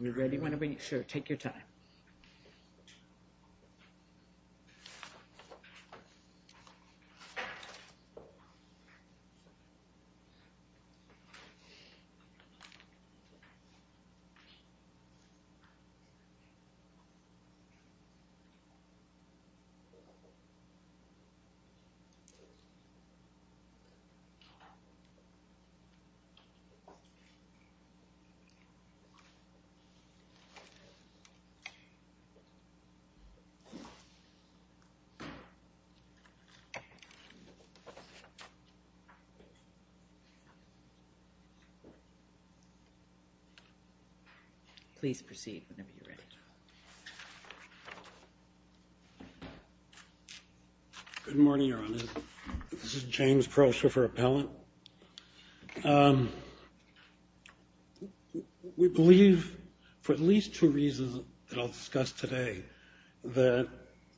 We're ready whenever you're sure. Take your time. Please proceed whenever you're ready. Good morning, your honor. This is James Prosher for appellant. We believe, for at least two reasons that I'll discuss today, that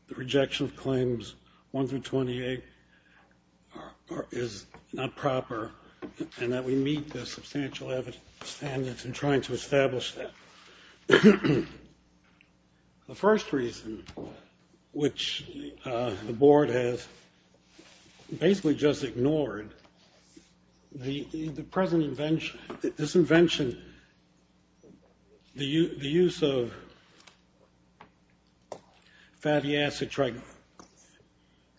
the rejection of claims 1 through 28 is not proper and that we meet the substantial evidence standards in trying to establish that. The first reason, which the board has basically just ignored, the present invention, this invention, the use of fatty acid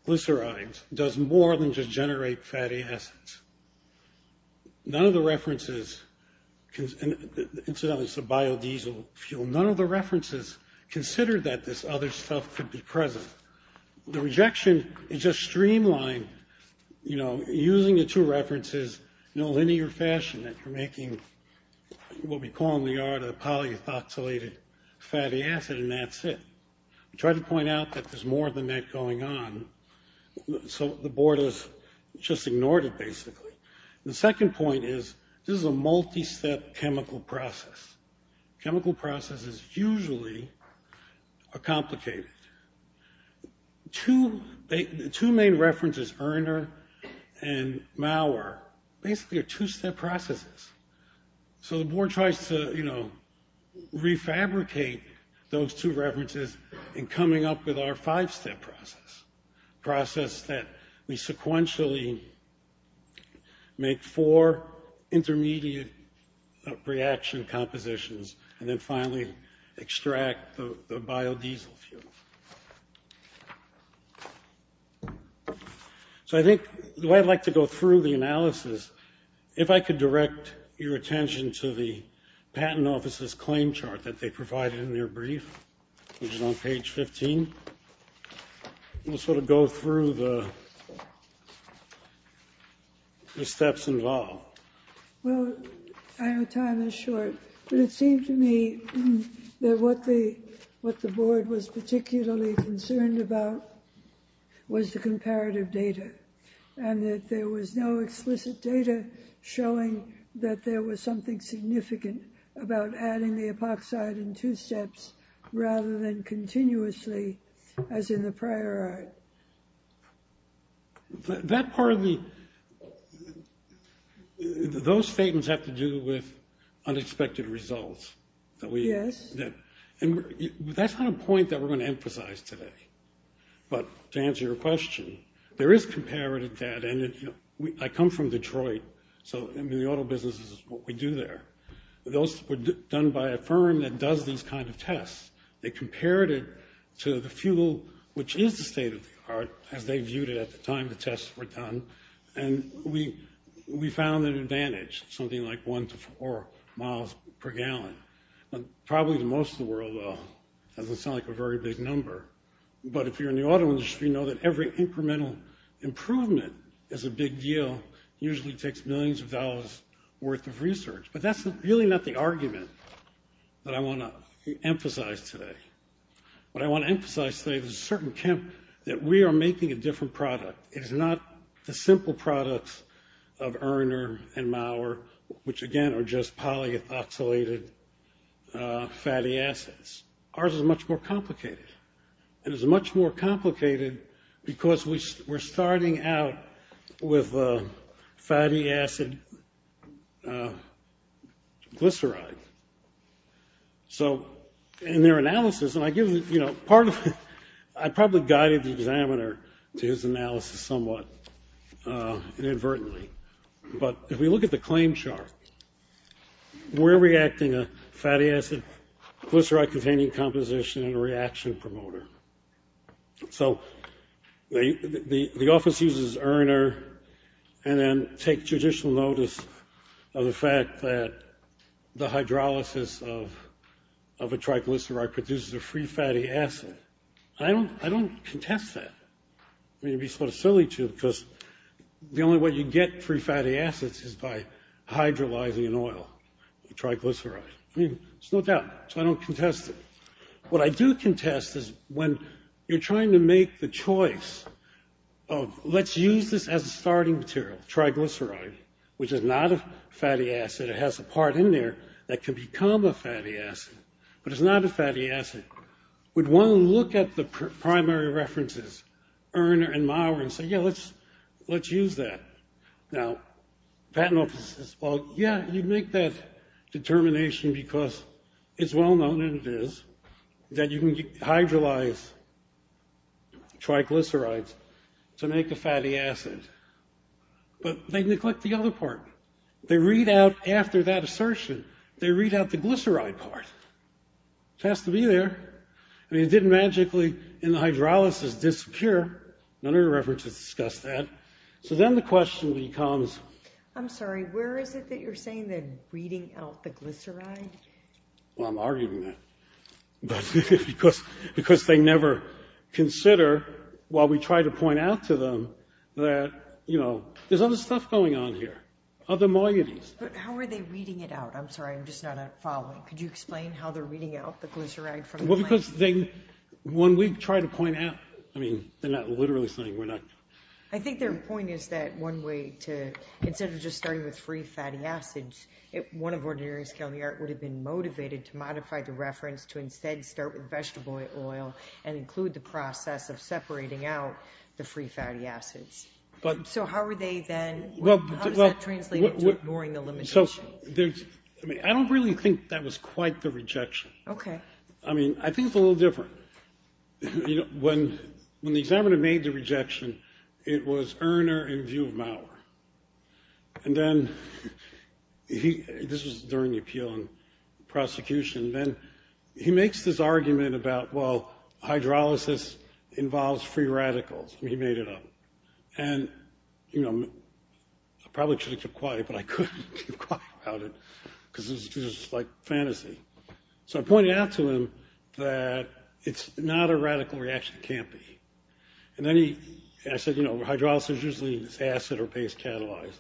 glycerides does more than just generate fatty acids. None of the references, incidentally it's a biodiesel fuel, none of the references consider that this other stuff could be present. The rejection is just streamline, you know, using the two references in a linear fashion that you're making what we call in the art of polyethoxylated fatty acid and that's it. We try to point out that there's more than that going on. So the board has just ignored it basically. The second point is this is a multi-step chemical process. Chemical processes usually are complicated. Two main references, Erner and Maurer, basically are two-step processes. So the board tries to, you know, refabricate those two references in coming up with our five-step process. Process that we sequentially make four intermediate reaction compositions and then finally extract the biodiesel fuel. So I think the way I'd like to go through the analysis, if I could direct your attention to the patent office's claim chart that they provided in their brief, which is on page 15. We'll sort of go through the steps involved. Well, I know time is short, but it seemed to me that what the board was particularly concerned about was the comparative data and that there was no explicit data showing that there was something significant about adding the epoxide in two steps rather than continuously as in the prior art. That part of the... Those statements have to do with unexpected results. Yes. That's not a point that we're going to emphasize today. But to answer your question, there is comparative data. I come from Detroit, so the auto business is what we do there. Those were done by a firm that does these kind of tests. They compared it to the fuel, which is the state-of-the-art, as they viewed it at the time the tests were done. And we found an advantage, something like one to four miles per gallon. Probably the most in the world, though. It doesn't sound like a very big number. But if you're in the auto industry, know that every incremental improvement is a big deal. It usually takes millions of dollars' worth of research. But that's really not the argument that I want to emphasize today. What I want to emphasize today is that we are making a different product. It is not the simple products of Erner and Maurer, which, again, are just polyethylated fatty acids. Ours is much more complicated. And it's much more complicated because we're starting out with fatty acid glycerides. So in their analysis, and I probably guided the examiner to his analysis somewhat inadvertently. But if we look at the claim chart, we're reacting a fatty acid glyceride-containing composition in a reaction promoter. So the office uses Erner and then take judicial notice of the fact that the hydrolysis of a tricalyceride produces a free fatty acid. I don't contest that. I mean, it would be sort of silly to because the only way you get free fatty acids is by hydrolyzing an oil, tricalyceride. I mean, there's no doubt, so I don't contest it. What I do contest is when you're trying to make the choice of let's use this as a starting material, tricalyceride, which is not a fatty acid. It has a part in there that can become a fatty acid, but it's not a fatty acid. Would one look at the primary references, Erner and Maurer, and say, yeah, let's use that. Now, patent office says, well, yeah, you'd make that determination because it's well-known, and it is, that you can hydrolyze tricalycerides to make a fatty acid. But they neglect the other part. They read out after that assertion, they read out the glyceride part. It has to be there. I mean, it didn't magically in the hydrolysis disappear. None of the references discuss that. So then the question becomes. I'm sorry, where is it that you're saying that reading out the glyceride? Well, I'm arguing that because they never consider while we try to point out to them that, you know, there's other stuff going on here, other moieties. But how are they reading it out? I'm sorry, I'm just not following. Could you explain how they're reading out the glyceride from the plant? Well, because they, when we try to point out, I mean, they're not literally saying we're not. I think their point is that one way to, instead of just starting with free fatty acids, one of ordinary scaly art would have been motivated to modify the reference to instead start with vegetable oil and include the process of separating out the free fatty acids. So how are they then, how does that translate into ignoring the limitations? So there's, I mean, I don't really think that was quite the rejection. Okay. I mean, I think it's a little different. You know, when the examiner made the rejection, it was Erner in view of Maurer. And then he, this was during the appeal and prosecution, then he makes this argument about, well, hydrolysis involves free radicals. He made it up. And, you know, I probably should have kept quiet, but I couldn't keep quiet about it, because it was just like fantasy. So I pointed out to him that it's not a radical reaction, it can't be. And then he, I said, you know, hydrolysis usually is acid or base catalyzed.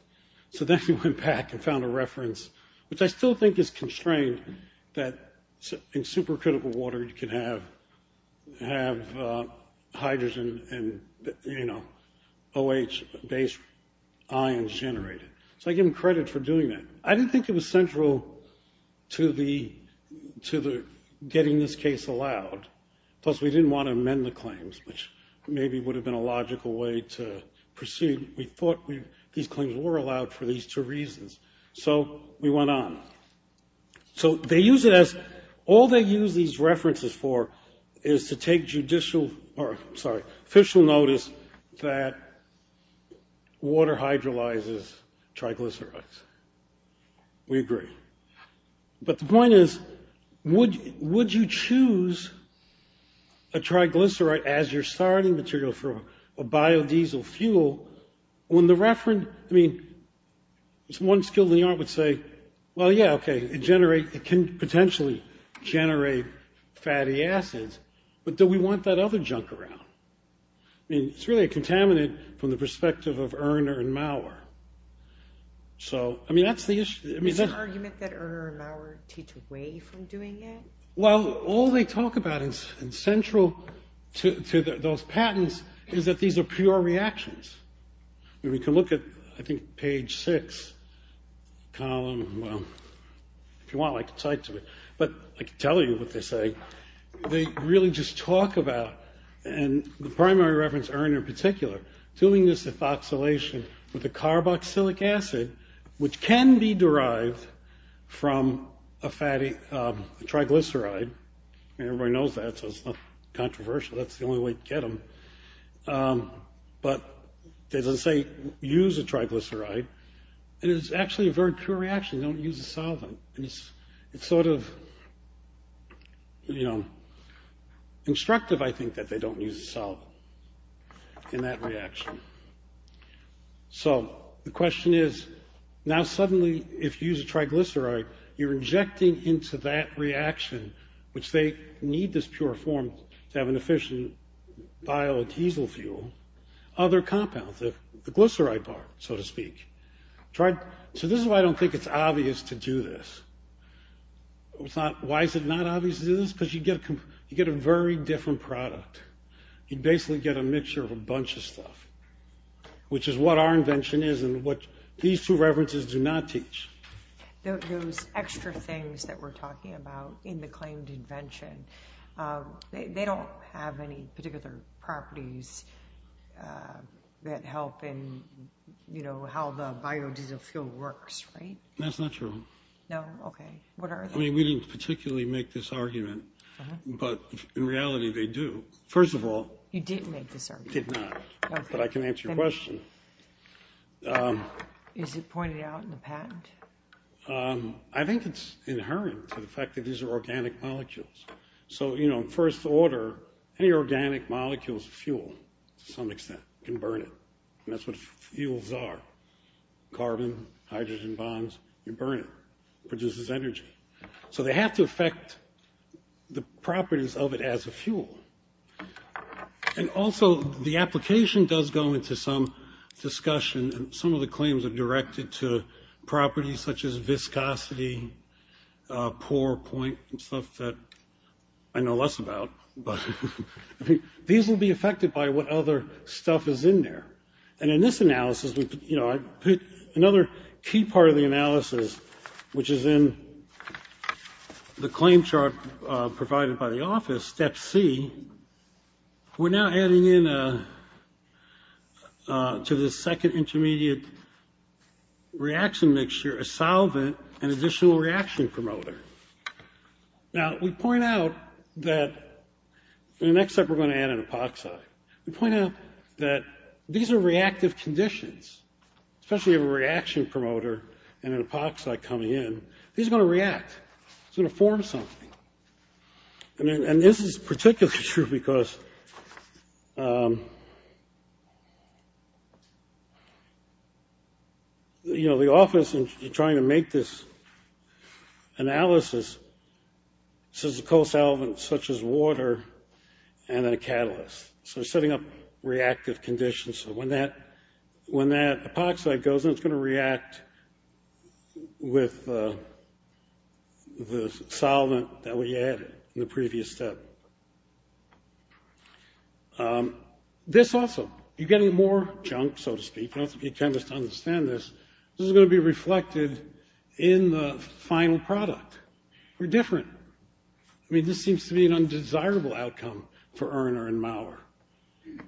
So then he went back and found a reference, which I still think is constrained that in supercritical water you can have hydrogen and, you know, OH base ions generated. So I give him credit for doing that. I didn't think it was central to the getting this case allowed. Plus, we didn't want to amend the claims, which maybe would have been a logical way to proceed. We thought these claims were allowed for these two reasons. So we went on. So they use it as, all they use these references for is to take judicial, or sorry, official notice that water hydrolyzes triglycerides. We agree. But the point is, would you choose a triglyceride as your starting material for a biodiesel fuel when the reference, I mean, one skill in the art would say, well, yeah, okay, it can potentially generate fatty acids, but do we want that other junk around? I mean, it's really a contaminant from the perspective of Erner and Maurer. So, I mean, that's the issue. Is the argument that Erner and Maurer teach away from doing it? Well, all they talk about is central to those patents is that these are pure reactions. I mean, we can look at, I think, page six, column, well, if you want, I can cite to it. But I can tell you what they say. They really just talk about, and the primary reference, Erner in particular, doing this ethoxylation with a carboxylic acid, which can be derived from a fatty triglyceride. I mean, everybody knows that, so it's not controversial. That's the only way to get them. But they say use a triglyceride, and it's actually a very pure reaction. They don't use a solvent. It's sort of, you know, instructive, I think, that they don't use a solvent in that reaction. So the question is, now suddenly, if you use a triglyceride, you're injecting into that reaction, which they need this pure form to have an efficient biodiesel fuel, other compounds, the glyceride part, so to speak. So this is why I don't think it's obvious to do this. Why is it not obvious to do this? Because you get a very different product. You basically get a mixture of a bunch of stuff, which is what our invention is and what these two references do not teach. Those extra things that we're talking about in the claimed invention, they don't have any particular properties that help in, you know, how the biodiesel fuel works, right? That's not true. No? Okay. What are they? I mean, we didn't particularly make this argument. But in reality, they do. First of all, You did make this argument. I did not. But I can answer your question. Is it pointed out in the patent? I think it's inherent to the fact that these are organic molecules. So, you know, in first order, any organic molecules, fuel, to some extent, can burn it. And that's what fuels are. Carbon, hydrogen bonds, you burn it. It produces energy. So they have to affect the properties of it as a fuel. And also, the application does go into some discussion. Some of the claims are directed to properties such as viscosity, pore point, and stuff that I know less about. But these will be affected by what other stuff is in there. And in this analysis, you know, I put another key part of the analysis, which is in the claim chart provided by the office, Step C. We're now adding in to the second intermediate reaction mixture, a solvent, an additional reaction promoter. Now, we point out that the next step, we're going to add an epoxide. We point out that these are reactive conditions, especially a reaction promoter and an epoxide coming in. These are going to react. It's going to form something. And this is particularly true because, you know, the office is trying to make this analysis. This is a co-solvent such as water and a catalyst. So we're setting up reactive conditions. So when that epoxide goes in, it's going to react with the solvent that we added in the previous step. This also, you're getting more junk, so to speak. You don't have to be a chemist to understand this. This is going to be reflected in the final product. We're different. I mean, this seems to be an undesirable outcome for Erner and Maurer.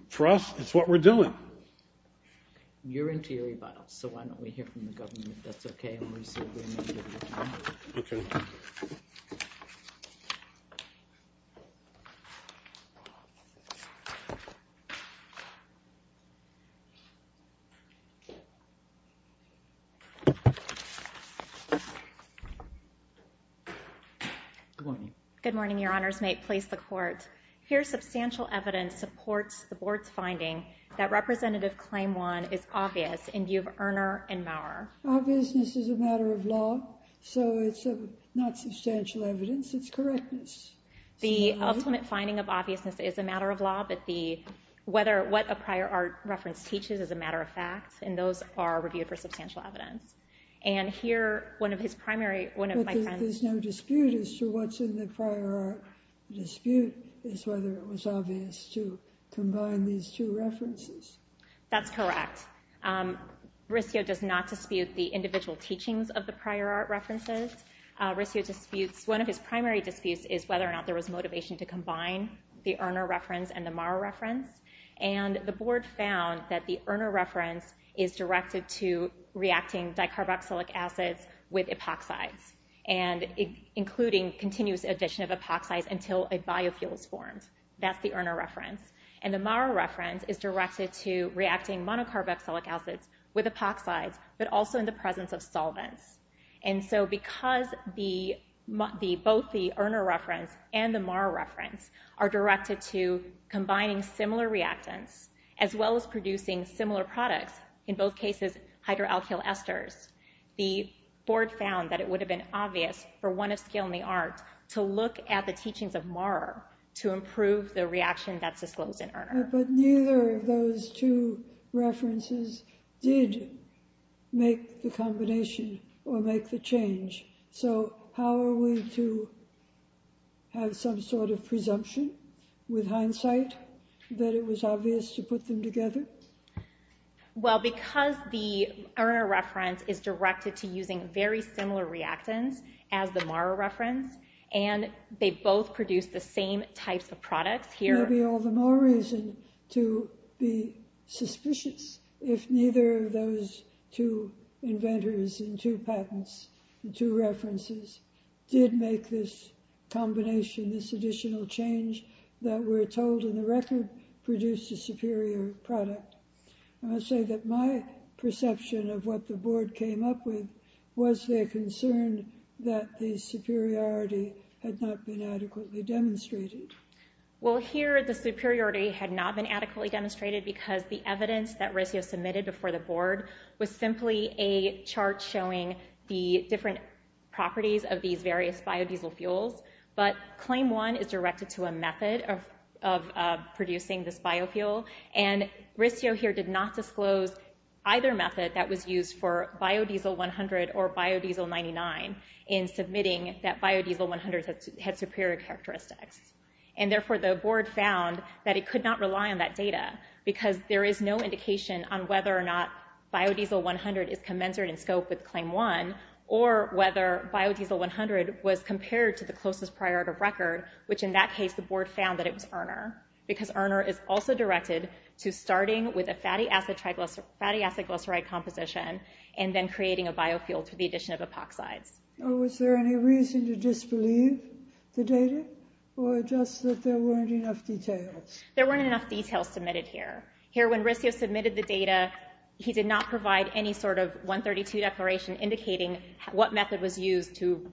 For us, it's what we're doing. You're into your rebuttals, so why don't we hear from the government, if that's okay. Good morning. Good morning, Your Honors. May it please the Court. Here, substantial evidence supports the Board's finding that Representative Claim 1 is obvious in view of Erner and Maurer. Obviousness is a matter of law, so it's not substantial evidence. It's correctness. The ultimate finding of obviousness is a matter of law, but what a prior art reference teaches is a matter of fact, and those are reviewed for substantial evidence. But there's no dispute as to what's in the prior art dispute is whether it was obvious to combine these two references. That's correct. Rissio does not dispute the individual teachings of the prior art references. One of his primary disputes is whether or not there was motivation to combine the Erner reference and the Maurer reference. The Board found that the Erner reference is directed to reacting dicarboxylic acids with epoxides, including continuous addition of epoxides until a biofuel is formed. That's the Erner reference. The Maurer reference is directed to reacting monocarboxylic acids with epoxides, but also in the presence of solvents. And so because both the Erner reference and the Maurer reference are directed to combining similar reactants, as well as producing similar products, in both cases, hydroalkyl esters, the Board found that it would have been obvious for one of scale in the art to look at the teachings of Maurer to improve the reaction that's disclosed in Erner. But neither of those two references did make the combination or make the change. So how are we to have some sort of presumption, with hindsight, that it was obvious to put them together? Well, because the Erner reference is directed to using very similar reactants as the Maurer reference, and they both produce the same types of products here. There may be all the more reason to be suspicious if neither of those two inventors and two patents and two references did make this combination, this additional change that we're told in the record produced a superior product. I must say that my perception of what the Board came up with was their concern that the superiority had not been adequately demonstrated. Well, here the superiority had not been adequately demonstrated because the evidence that RISDO submitted before the Board was simply a chart showing the different properties of these various biodiesel fuels. But Claim 1 is directed to a method of producing this biofuel, and RISDO here did not disclose either method that was used for biodiesel 100 or biodiesel 99 in submitting that biodiesel 100 had superior characteristics. And therefore the Board found that it could not rely on that data because there is no indication on whether or not biodiesel 100 is commensurate in scope with Claim 1, or whether biodiesel 100 was compared to the closest prior to record, which in that case the Board found that it was Erner. Because Erner is also directed to starting with a fatty acid glyceride composition and then creating a biofuel to the addition of epoxides. Was there any reason to disbelieve the data, or just that there weren't enough details? There weren't enough details submitted here. Here when RISDO submitted the data, he did not provide any sort of 132 declaration indicating what method was used to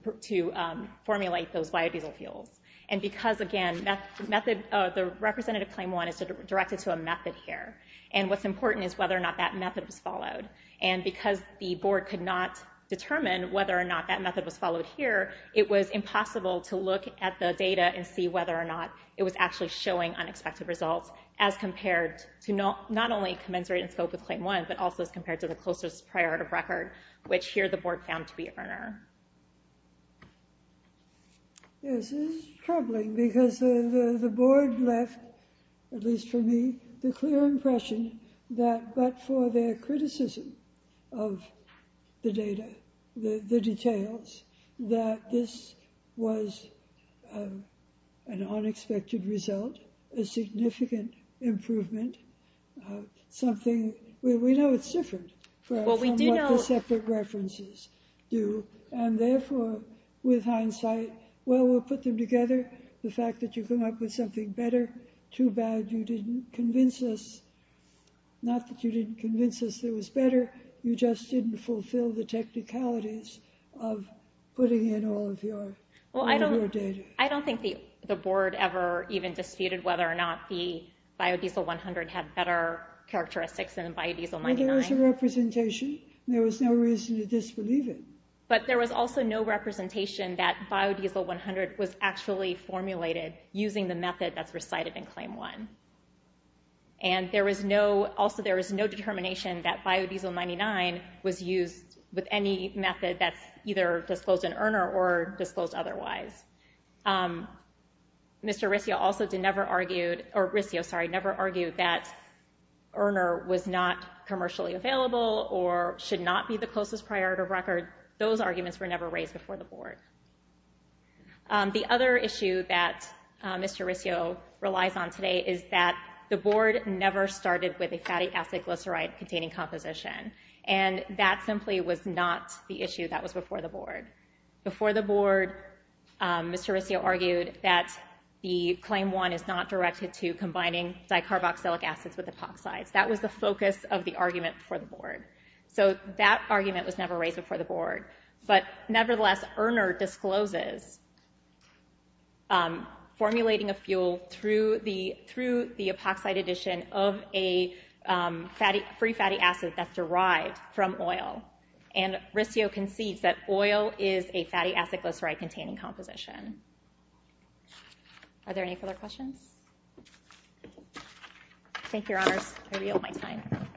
formulate those biodiesel fuels. And because, again, the representative Claim 1 is directed to a method here, and what's important is whether or not that method was followed. And because the Board could not determine whether or not that method was followed here, it was impossible to look at the data and see whether or not it was actually showing unexpected results as compared to not only commensurate in scope with Claim 1, but also as compared to the closest prior to record, which here the Board found to be Erner. Yes, this is troubling because the Board left, at least for me, the clear impression that, but for their criticism of the data, the details, that this was an unexpected result, a significant improvement, something we know it's different from what the separate references do. And therefore, with hindsight, well, we'll put them together. The fact that you come up with something better, too bad you didn't convince us, not that you didn't convince us there was better, you just didn't fulfill the technicalities of putting in all of your data. I don't think the Board ever even disputed whether or not the Biodiesel 100 had better characteristics than Biodiesel 99. But there was a representation. There was no reason to disbelieve it. But there was also no representation that Biodiesel 100 was actually formulated using the method that's recited in Claim 1. And there was no, also there was no determination that Biodiesel 99 was used with any method that's either disclosed in Erner or disclosed otherwise. Mr. Riscio also never argued, or Riscio, sorry, never argued that Erner was not commercially available or should not be the closest prior to record. Those arguments were never raised before the Board. The other issue that Mr. Riscio relies on today is that the Board never started with a fatty acid glyceride containing composition. And that simply was not the issue that was before the Board. Before the Board, Mr. Riscio argued that the Claim 1 is not directed to combining dicarboxylic acids with epoxides. That was the focus of the argument before the Board. So that argument was never raised before the Board. But nevertheless, Erner discloses formulating a fuel through the epoxide addition of a free fatty acid that's derived from oil. And Riscio concedes that oil is a fatty acid glyceride containing composition. Are there any further questions? Thank you, Your Honors. I'm going to be out of my time.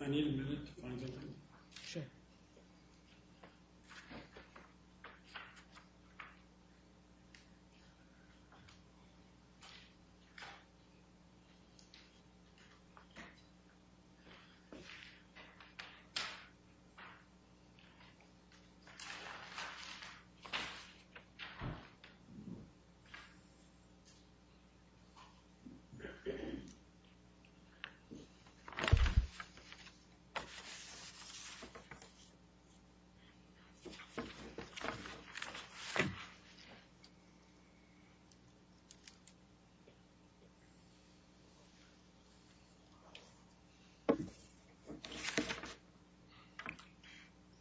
I need a minute. Sure. Thank you. Thank you.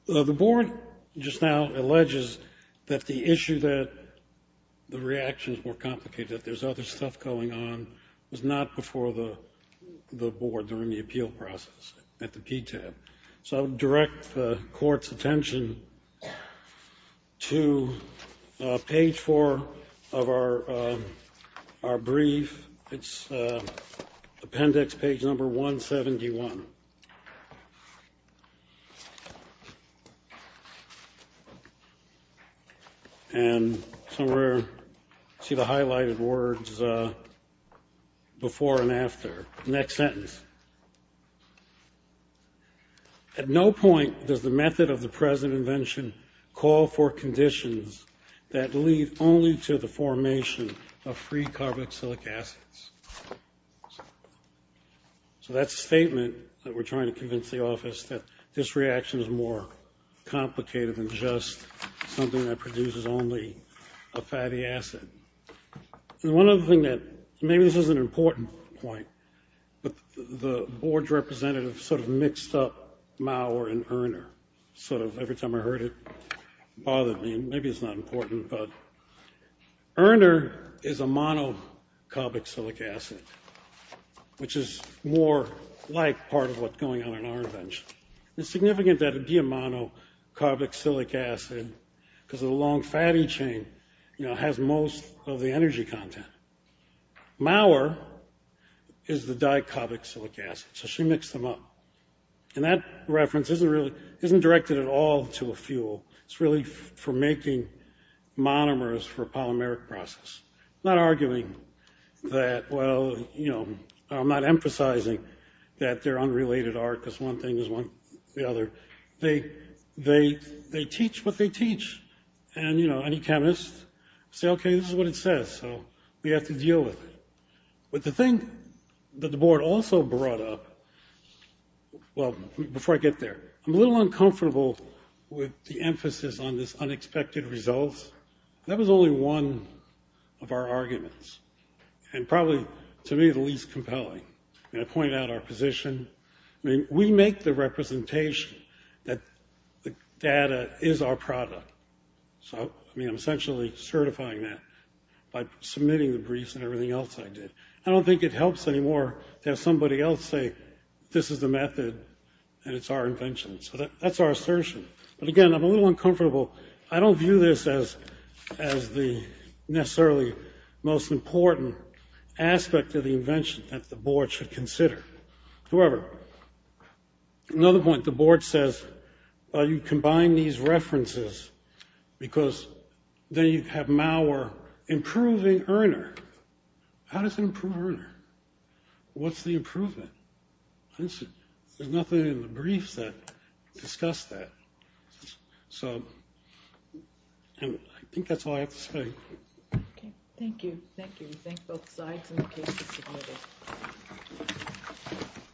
The Board just now alleges that the issue that the reactions were complicated, that there's other stuff going on, was not before the Board during the appeal process at the PTAB. So I would direct the Court's attention to page four of our brief. It's appendix page number 171. And somewhere you see the highlighted words before and after. Next sentence. At no point does the method of the present invention call for conditions that lead only to the formation of free carboxylic acids. So that's a statement that we're trying to convince the office that this reaction is more complicated than just something that produces only a fatty acid. And one other thing that maybe this is an important point, but the Board's representative sort of mixed up Maurer and Erner. Sort of every time I heard it, it bothered me. Maybe it's not important. But Erner is a monocarboxylic acid, which is more like part of what's going on in our invention. It's significant that it be a monocarboxylic acid because the long fatty chain has most of the energy content. Maurer is the dicarboxylic acid. So she mixed them up. And that reference isn't directed at all to a fuel. It's really for making monomers for polymeric process. I'm not arguing that, well, you know, I'm not emphasizing that they're unrelated art because one thing is one, the other. They teach what they teach. And, you know, any chemist will say, okay, this is what it says, so we have to deal with it. But the thing that the Board also brought up, well, before I get there, I'm a little uncomfortable with the emphasis on this unexpected results. That was only one of our arguments and probably, to me, the least compelling. And I pointed out our position. I mean, we make the representation that the data is our product. So, I mean, I'm essentially certifying that by submitting the briefs and everything else I did. I don't think it helps anymore to have somebody else say this is the method and it's our invention. So that's our assertion. But, again, I'm a little uncomfortable. I don't view this as the necessarily most important aspect of the invention that the Board should consider. However, another point, the Board says, well, you combine these references because then you have Maurer improving Erner. How does it improve Erner? What's the improvement? There's nothing in the briefs that discuss that. So I think that's all I have to say. Okay. Thank you. Thank you. We thank both sides and the case is submitted.